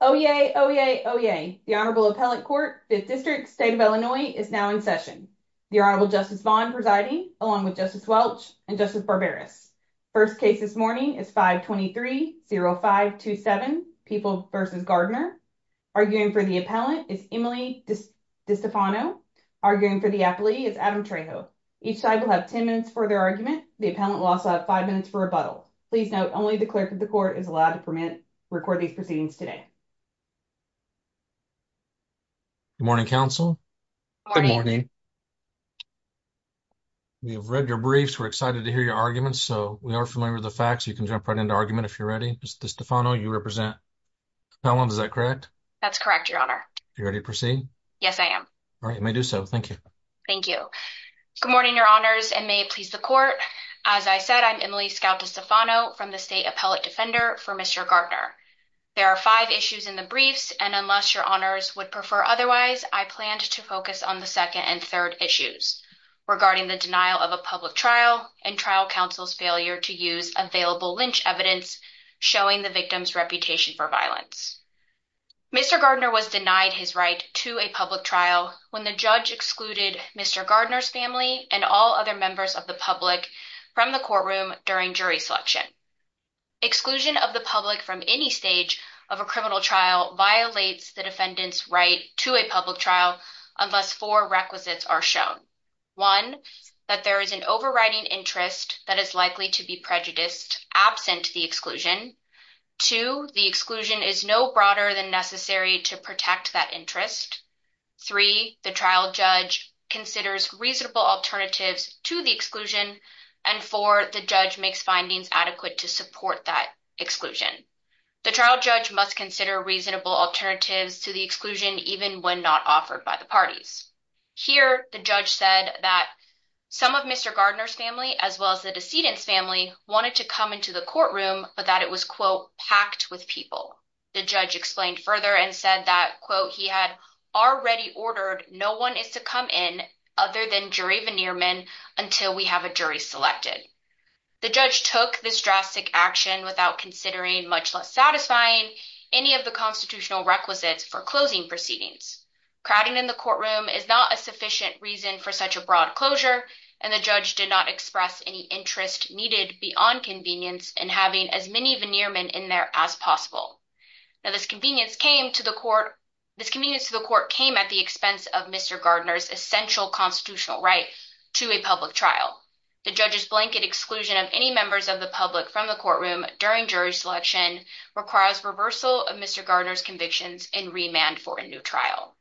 Oh yay, oh yay, oh yay. The Honorable Appellant Court, 5th District, State of Illinois, is now in session. The Honorable Justice Vaughn presiding, along with Justice Welch and Justice Barberis. First case this morning is 523-0527, Peoples v. Gardner. Arguing for the appellant is Emily DiStefano. Arguing for the appealee is Adam Trejo. Each side will have 10 minutes for their argument. The appellant will also have 5 minutes for rebuttal. Please note, only the clerk of the court is allowed to record these proceedings today. Good morning, counsel. We have read your briefs, we're excited to hear your arguments, so we are familiar with the facts. You can jump right into argument if you're ready. Ms. DiStefano, you represent the appellant, is that correct? That's correct, Your Honor. Are you ready to proceed? Yes, I am. All right, you may do so. Thank you. Thank you. Good morning, Your Honors, and may it please the court. As I said, I'm Emily Scout DiStefano from the State Appellate Defender for Mr. Gardner. There are five issues in the briefs, and unless Your Honors would prefer otherwise, I planned to focus on the second and third issues regarding the denial of a public trial and trial counsel's failure to use available lynch evidence showing the victim's reputation for violence. Mr. Gardner was denied his right to a public trial when the judge excluded Mr. Gardner's family and all other members of the public from the courtroom during jury selection. Exclusion of the public from any stage of a criminal trial violates the defendant's right to a public trial unless four requisites are shown. One, that there is an overriding interest that is likely to be prejudiced absent the exclusion. Two, the exclusion is no broader than necessary to protect that interest. Three, the trial judge considers reasonable alternatives to the exclusion, and four, the judge makes findings adequate to support that exclusion. The trial judge must consider reasonable alternatives to the exclusion even when not offered by the parties. Here, the judge said that some of Mr. Gardner's family, as well as the decedent's family, wanted to come into the courtroom, but that it was, quote, packed with people. The judge explained further and said that, quote, he had already ordered no one is to come in other than jury veneermen until we have a jury selected. The judge took this drastic action without considering, much less satisfying, any of the constitutional requisites for closing proceedings. Crowding in the courtroom is not a sufficient reason for such a broad closure, and the judge did not express any interest needed beyond convenience in having as many veneermen in there as possible. Now, this convenience came to the court at the expense of Mr. Gardner's essential constitutional right to a public trial. The judge's blanket exclusion of any members of the public from the courtroom during jury selection requires reversal of Mr. Gardner's convictions and remand for a new trial.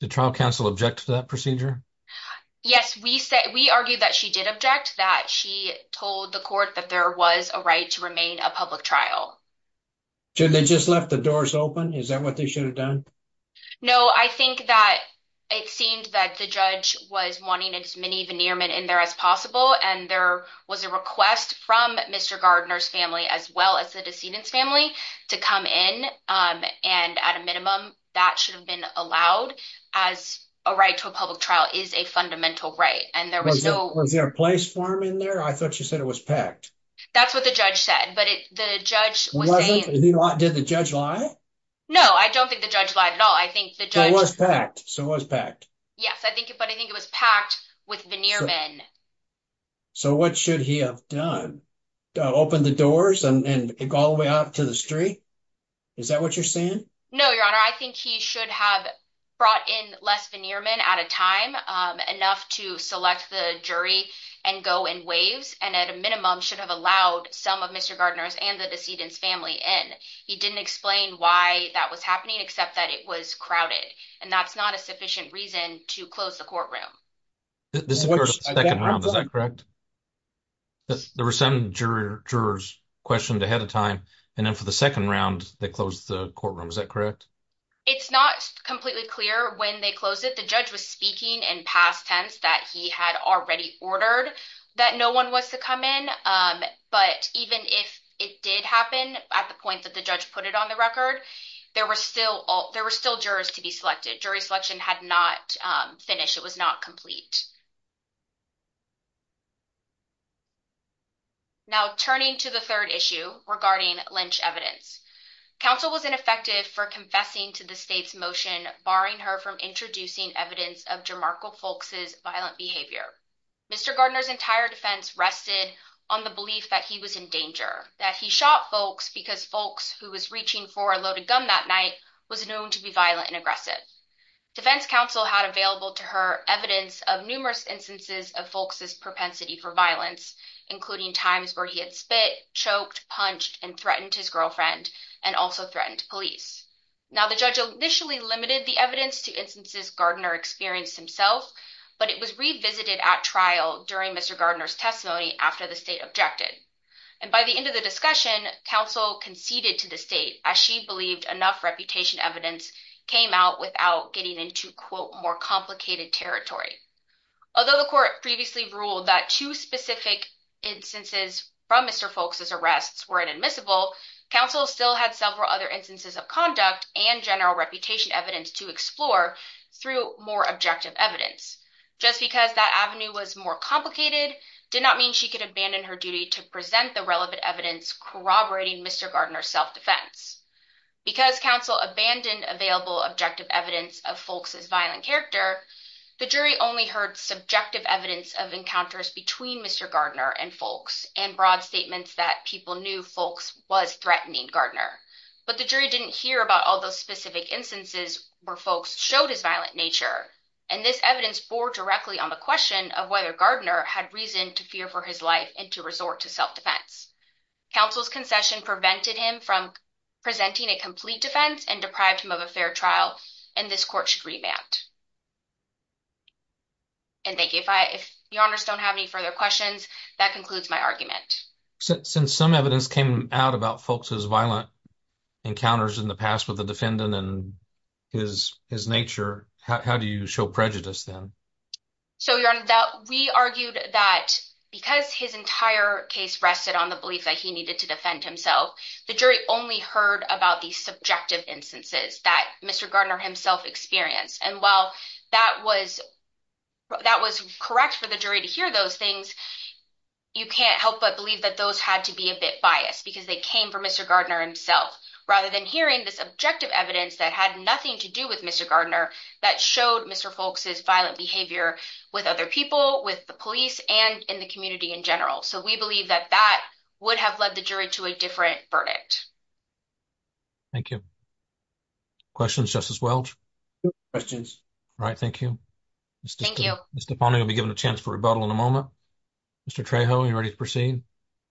Did trial counsel object to that procedure? Yes, we argued that she did object, that she told the court that there was a right to remain a public trial. So they just left the doors open? Is that what they should have done? No, I think that it seemed that the judge was wanting as many veneermen in there as possible, and there was a request from Mr. Gardner's family, as well as the decedent's family, to come in, and at a minimum, that should have been allowed, as a right to a public trial is a fundamental right. Was there a place for him in there? I thought you said it was packed. That's what the judge said. Did the judge lie? No, I don't think the judge lied at all. So it was packed? Yes, but I think it was packed with veneermen. So what should he have done? Open the doors and go all the way out to the street? Is that what you're saying? No, Your Honor, I think he should have brought in less veneermen at a time, enough to select the jury and go in waves, and at a minimum, should have allowed some of Mr. Gardner's and the decedent's family in. He didn't explain why that was happening, except that it was crowded, and that's not a sufficient reason to close the courtroom. This occurred in the second round, is that correct? There were some jurors questioned ahead of time, and then for the second round, they closed the courtroom, is that correct? It's not completely clear when they closed it. The judge was speaking in past tense that he had already ordered that no one was to come in, but even if it did happen at the point that the judge put it on the record, there were still jurors to be selected. Jury selection had not finished. It was not complete. Now, turning to the third issue regarding Lynch evidence, counsel was ineffective for confessing to the state's motion barring her from introducing evidence of Jarmarko Folks' violent behavior. Mr. Gardner's entire defense rested on the belief that he was in danger, that he shot Folks because Folks, who was reaching for a loaded gun that night, was known to be violent and aggressive. Defense counsel had available to her evidence of numerous instances of Folks' propensity for violence, including times where he had spit, choked, punched, and threatened his girlfriend, and also threatened police. Now, the judge initially limited the evidence to instances Gardner experienced himself, but it was revisited at trial during Mr. Gardner's testimony after the state objected. And by the end of the discussion, counsel conceded to the state, as she believed enough reputation evidence came out without getting into, quote, more complicated territory. Although the court previously ruled that two specific instances from Mr. Folks' arrests were inadmissible, counsel still had several other instances of conduct and general reputation evidence to explore through more objective evidence. Just because that avenue was more complicated did not mean she could abandon her duty to present the relevant evidence corroborating Mr. Gardner's self-defense. Because counsel abandoned available objective evidence of Folks' violent character, the jury only heard subjective evidence of encounters between Mr. Gardner and Folks, and broad statements that people knew Folks was threatening Gardner. But the jury didn't hear about all those specific instances where Folks showed his violent nature, and this evidence bore directly on the question of whether Gardner had reason to fear for his life and to resort to self-defense. Counsel's concession prevented him from presenting a complete defense and deprived him of a fair trial, and this court should remand. And thank you. If your honors don't have any further questions, that concludes my argument. Since some evidence came out about Folks' violent encounters in the past with the defendant and his nature, how do you show prejudice then? So, your honor, we argued that because his entire case rested on the belief that he needed to defend himself, the jury only heard about the subjective instances that Mr. Gardner himself experienced. And while that was correct for the jury to hear those things, you can't help but believe that those had to be a bit biased, because they came from Mr. Gardner himself. Rather than hearing the subjective evidence that had nothing to do with Mr. Gardner, that showed Mr. Folks' violent behavior with other people, with the police, and in the community in general. So we believe that that would have led the jury to a different verdict. Thank you. Questions, Justice Welch? No questions. All right. Thank you. Thank you. Mr. Ponio will be given a chance for rebuttal in a moment. Mr. Trejo, are you ready to proceed?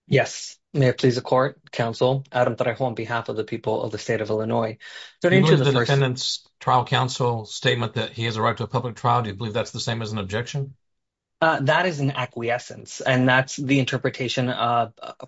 Yes. May it please the court, counsel, Adam Trejo, on behalf of the people of the state of Illinois. Do you believe the defendant's trial counsel's statement that he has a right to a public trial, do you believe that's the same as an objection? That is an acquiescence, and that's the interpretation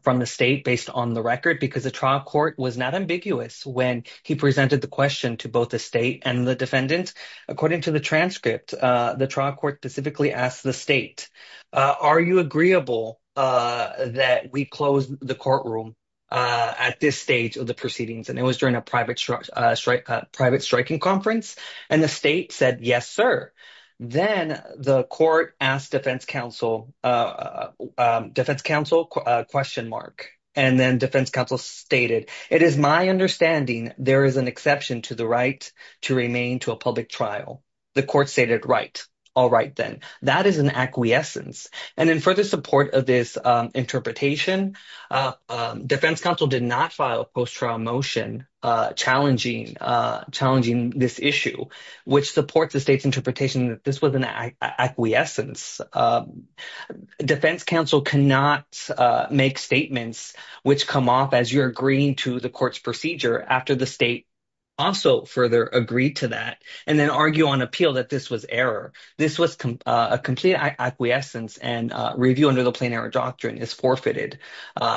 from the state based on the record, because the trial court was not ambiguous when he presented the question to both the state and the defendant. According to the transcript, the trial court specifically asked the state, are you agreeable that we close the courtroom at this stage of the proceedings? And it was during a private striking conference, and the state said, yes, sir. Then the court asked defense counsel, defense counsel, question mark. And then defense counsel stated, it is my understanding there is an exception to the right to remain to a public trial. The court stated, right. All right, then. That is an acquiescence. And in further support of this interpretation, defense counsel did not file a post-trial motion challenging this issue, which supports the state's interpretation that this was an acquiescence. Defense counsel cannot make statements which come off as you're agreeing to the court's procedure after the state also further agreed to that, and then argue on appeal that this was error. This was a complete acquiescence, and review under the plain error doctrine is forfeited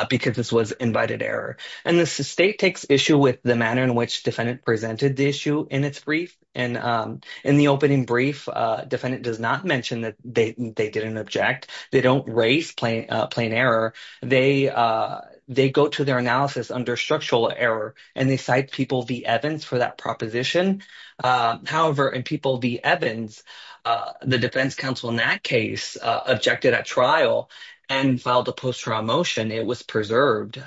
because this was invited error. And the state takes issue with the manner in which defendant presented the issue in its brief. And in the opening brief, defendant does not mention that they didn't object. They don't raise plain error. They go to their analysis under structural error, and they cite people v. Evans for that proposition. However, in people v. Evans, the defense counsel in that case objected at trial and filed a post-trial motion. It was preserved.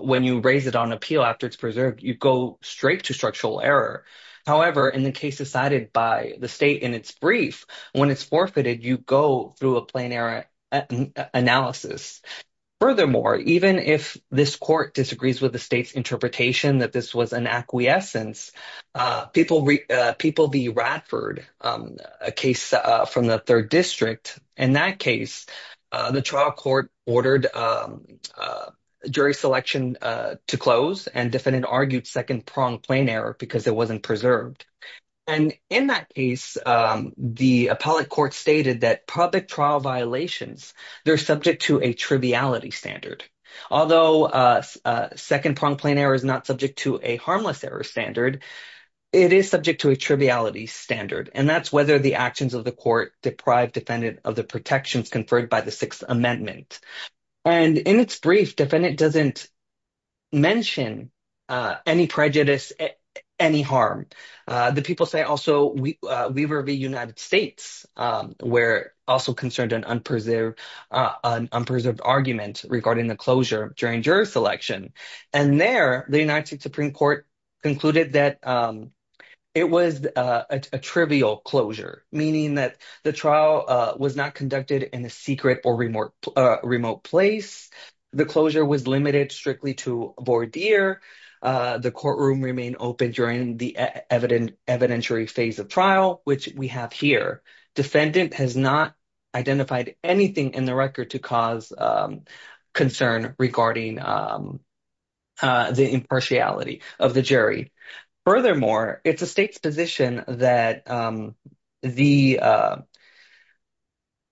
When you raise it on appeal after it's preserved, you go straight to structural error. However, in the case decided by the state in its brief, when it's forfeited, you go through a plain error analysis. Furthermore, even if this court disagrees with the state's interpretation that this was an acquiescence, people v. Radford, a case from the 3rd District, in that case, the trial court ordered jury selection to close, and defendant argued second-pronged plain error because it wasn't preserved. And in that case, the appellate court stated that public trial violations, they're subject to a triviality standard. Although second-pronged plain error is not subject to a harmless error standard, it is subject to a triviality standard, and that's whether the actions of the court deprive defendant of the protections conferred by the Sixth Amendment. And in its brief, defendant doesn't mention any prejudice, any harm. The people say also we v. United States were also concerned an unpreserved argument regarding the closure during jury selection. And there, the United States Supreme Court concluded that it was a trivial closure, meaning that the trial was not conducted in a secret or remote place. The closure was limited strictly to voir dire. The courtroom remained open during the evidentiary phase of trial, which we have here. Defendant has not identified anything in the record to cause concern regarding the impartiality of the jury. Furthermore, it's the state's position that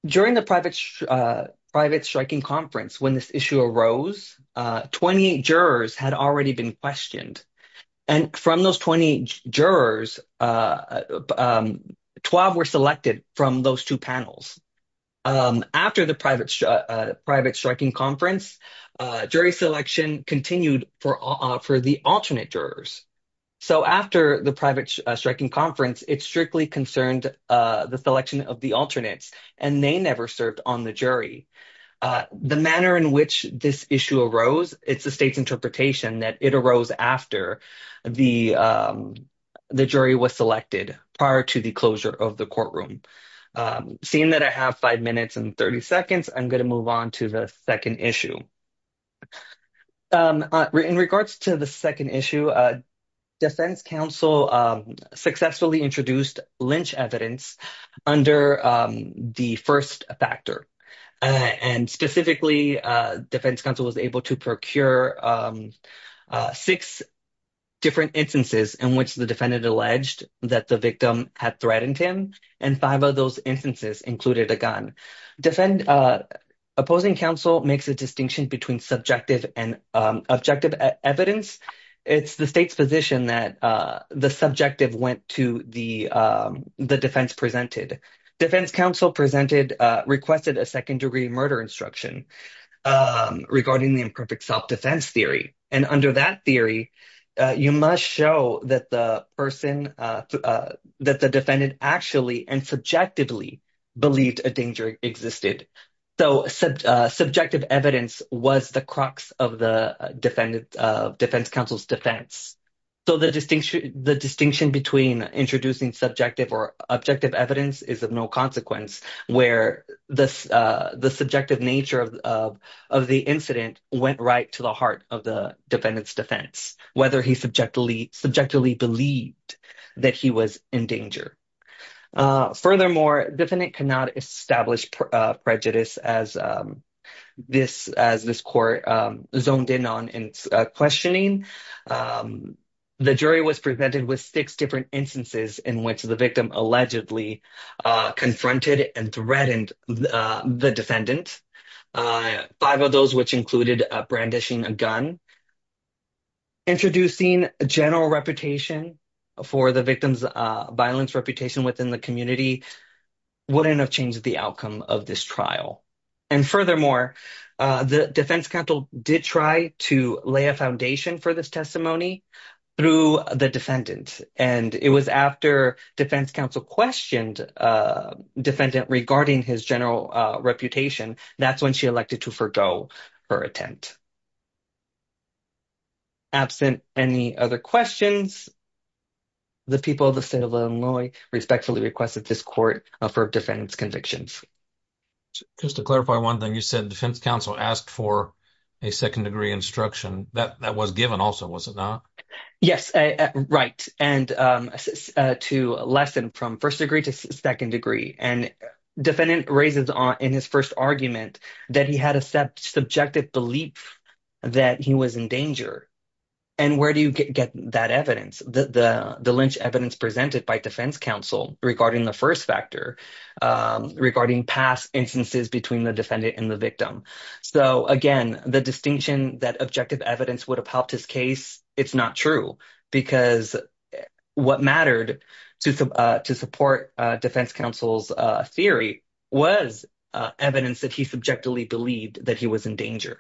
during the private striking conference, when this issue arose, 28 jurors had already been questioned. And from those 28 jurors, 12 were selected from those two panels. After the private striking conference, jury selection continued for the alternate jurors. So after the private striking conference, it strictly concerned the selection of the alternates, and they never served on the jury. The manner in which this issue arose, it's the state's interpretation that it arose after the jury was selected, prior to the closure of the courtroom. Seeing that I have five minutes and 30 seconds, I'm going to move on to the second issue. In regards to the second issue, defense counsel successfully introduced lynch evidence under the first factor. Specifically, defense counsel was able to procure six different instances in which the defendant alleged that the victim had threatened him, and five of those instances included a gun. Opposing counsel makes a distinction between subjective and objective evidence. It's the state's position that the subjective went to the defense presented. Defense counsel requested a second-degree murder instruction regarding the imperfect self-defense theory. And under that theory, you must show that the defendant actually and subjectively believed a danger existed. So subjective evidence was the crux of the defense counsel's defense. So the distinction between introducing subjective or objective evidence is of no consequence, where the subjective nature of the incident went right to the heart of the defendant's defense, whether he subjectively believed that he was in danger. Furthermore, defendant cannot establish prejudice as this court zoned in on in questioning. The jury was presented with six different instances in which the victim allegedly confronted and threatened the defendant, five of those which included brandishing a gun. Introducing a general reputation for the victim's violence reputation within the community wouldn't have changed the outcome of this trial. And furthermore, the defense counsel did try to lay a foundation for this testimony through the defendant. And it was after defense counsel questioned defendant regarding his general reputation, that's when she elected to forego her attempt. Absent any other questions, the people of the state of Illinois respectfully requested this court for defendant's convictions. Just to clarify one thing, you said defense counsel asked for a second-degree instruction. That was given also, was it not? Yes, right. And to lessen from first degree to second degree. And defendant raises in his first argument that he had a subjective belief that he was in danger. And where do you get that evidence? The Lynch evidence presented by defense counsel regarding the first factor, regarding past instances between the defendant and the victim. So again, the distinction that objective evidence would have helped his case, it's not true. Because what mattered to support defense counsel's theory was evidence that he subjectively believed that he was in danger.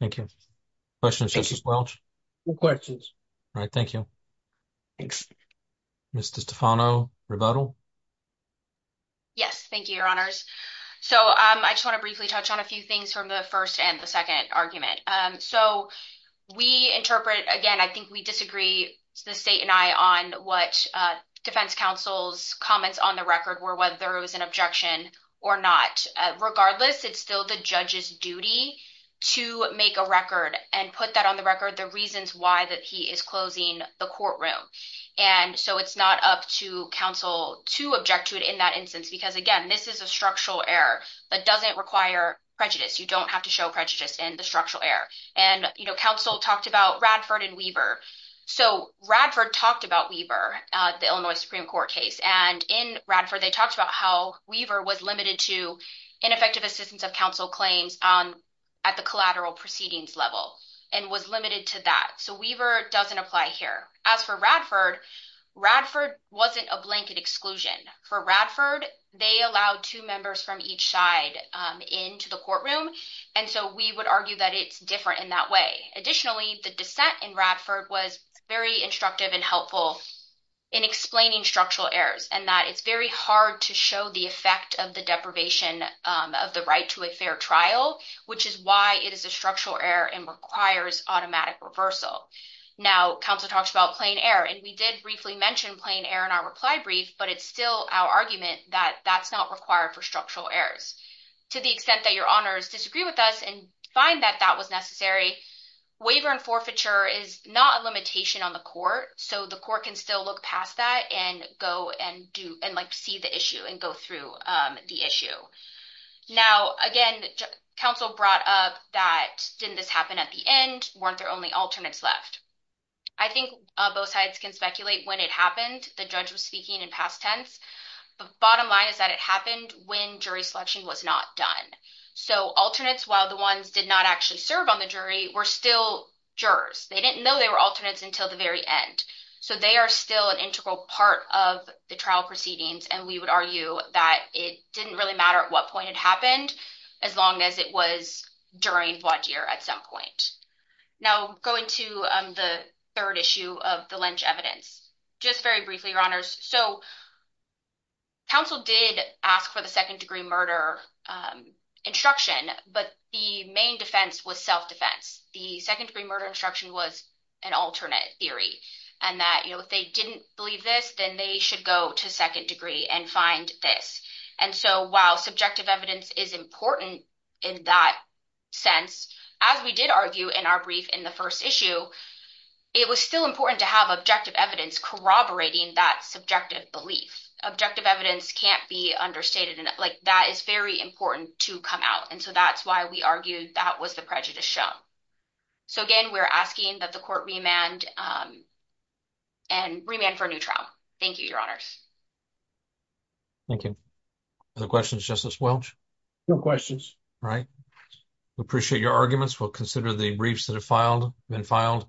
Thank you. Questions, Justice Welch? No questions. All right, thank you. Thanks. Ms. DeStefano, rebuttal? Yes, thank you, your honors. So I just want to briefly touch on a few things from the first and the second argument. So we interpret, again, I think we disagree, the state and I, on what defense counsel's comments on the record were, whether it was an objection or not. Regardless, it's still the judge's duty to make a record and put that on the record, the reasons why that he is closing the courtroom. And so it's not up to counsel to object to it in that instance. Because, again, this is a structural error that doesn't require prejudice. You don't have to show prejudice in the structural error. And counsel talked about Radford and Weaver. So Radford talked about Weaver, the Illinois Supreme Court case. And in Radford, they talked about how Weaver was limited to ineffective assistance of counsel claims at the collateral proceedings level and was limited to that. So Weaver doesn't apply here. As for Radford, Radford wasn't a blanket exclusion. For Radford, they allowed two members from each side into the courtroom. And so we would argue that it's different in that way. Additionally, the dissent in Radford was very instructive and helpful in explaining structural errors and that it's very hard to show the effect of the deprivation of the right to a fair trial, which is why it is a structural error and requires automatic reversal. Now, counsel talks about plain error. And we did briefly mention plain error in our reply brief, but it's still our argument that that's not required for structural errors. To the extent that your honors disagree with us and find that that was necessary, waiver and forfeiture is not a limitation on the court. So the court can still look past that and go and see the issue and go through the issue. Now, again, counsel brought up that didn't this happen at the end? Weren't there only alternates left? I think both sides can speculate when it happened. The judge was speaking in past tense. The bottom line is that it happened when jury selection was not done. So alternates, while the ones did not actually serve on the jury, were still jurors. They didn't know they were alternates until the very end. So they are still an integral part of the trial proceedings. And we would argue that it didn't really matter at what point it happened, as long as it was during void year at some point. Now, going to the third issue of the Lynch evidence, just very briefly, your honors. So counsel did ask for the second degree murder instruction. But the main defense was self-defense. The second degree murder instruction was an alternate theory. And that if they didn't believe this, then they should go to second degree and find this. And so while subjective evidence is important in that sense, as we did argue in our brief in the first issue, it was still important to have objective evidence corroborating that subjective belief. Objective evidence can't be understated. And that is very important to come out. And so that's why we argued that was the prejudice show. So, again, we're asking that the court remand and remand for a new trial. Thank you, your honors. Thank you. Other questions, Justice Welch? No questions. All right. We appreciate your arguments. We'll consider the briefs that have been filed,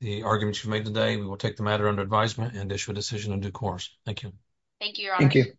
the arguments you've made today. We will take the matter under advisement and issue a decision in due course. Thank you. Thank you, your honor. Thank you.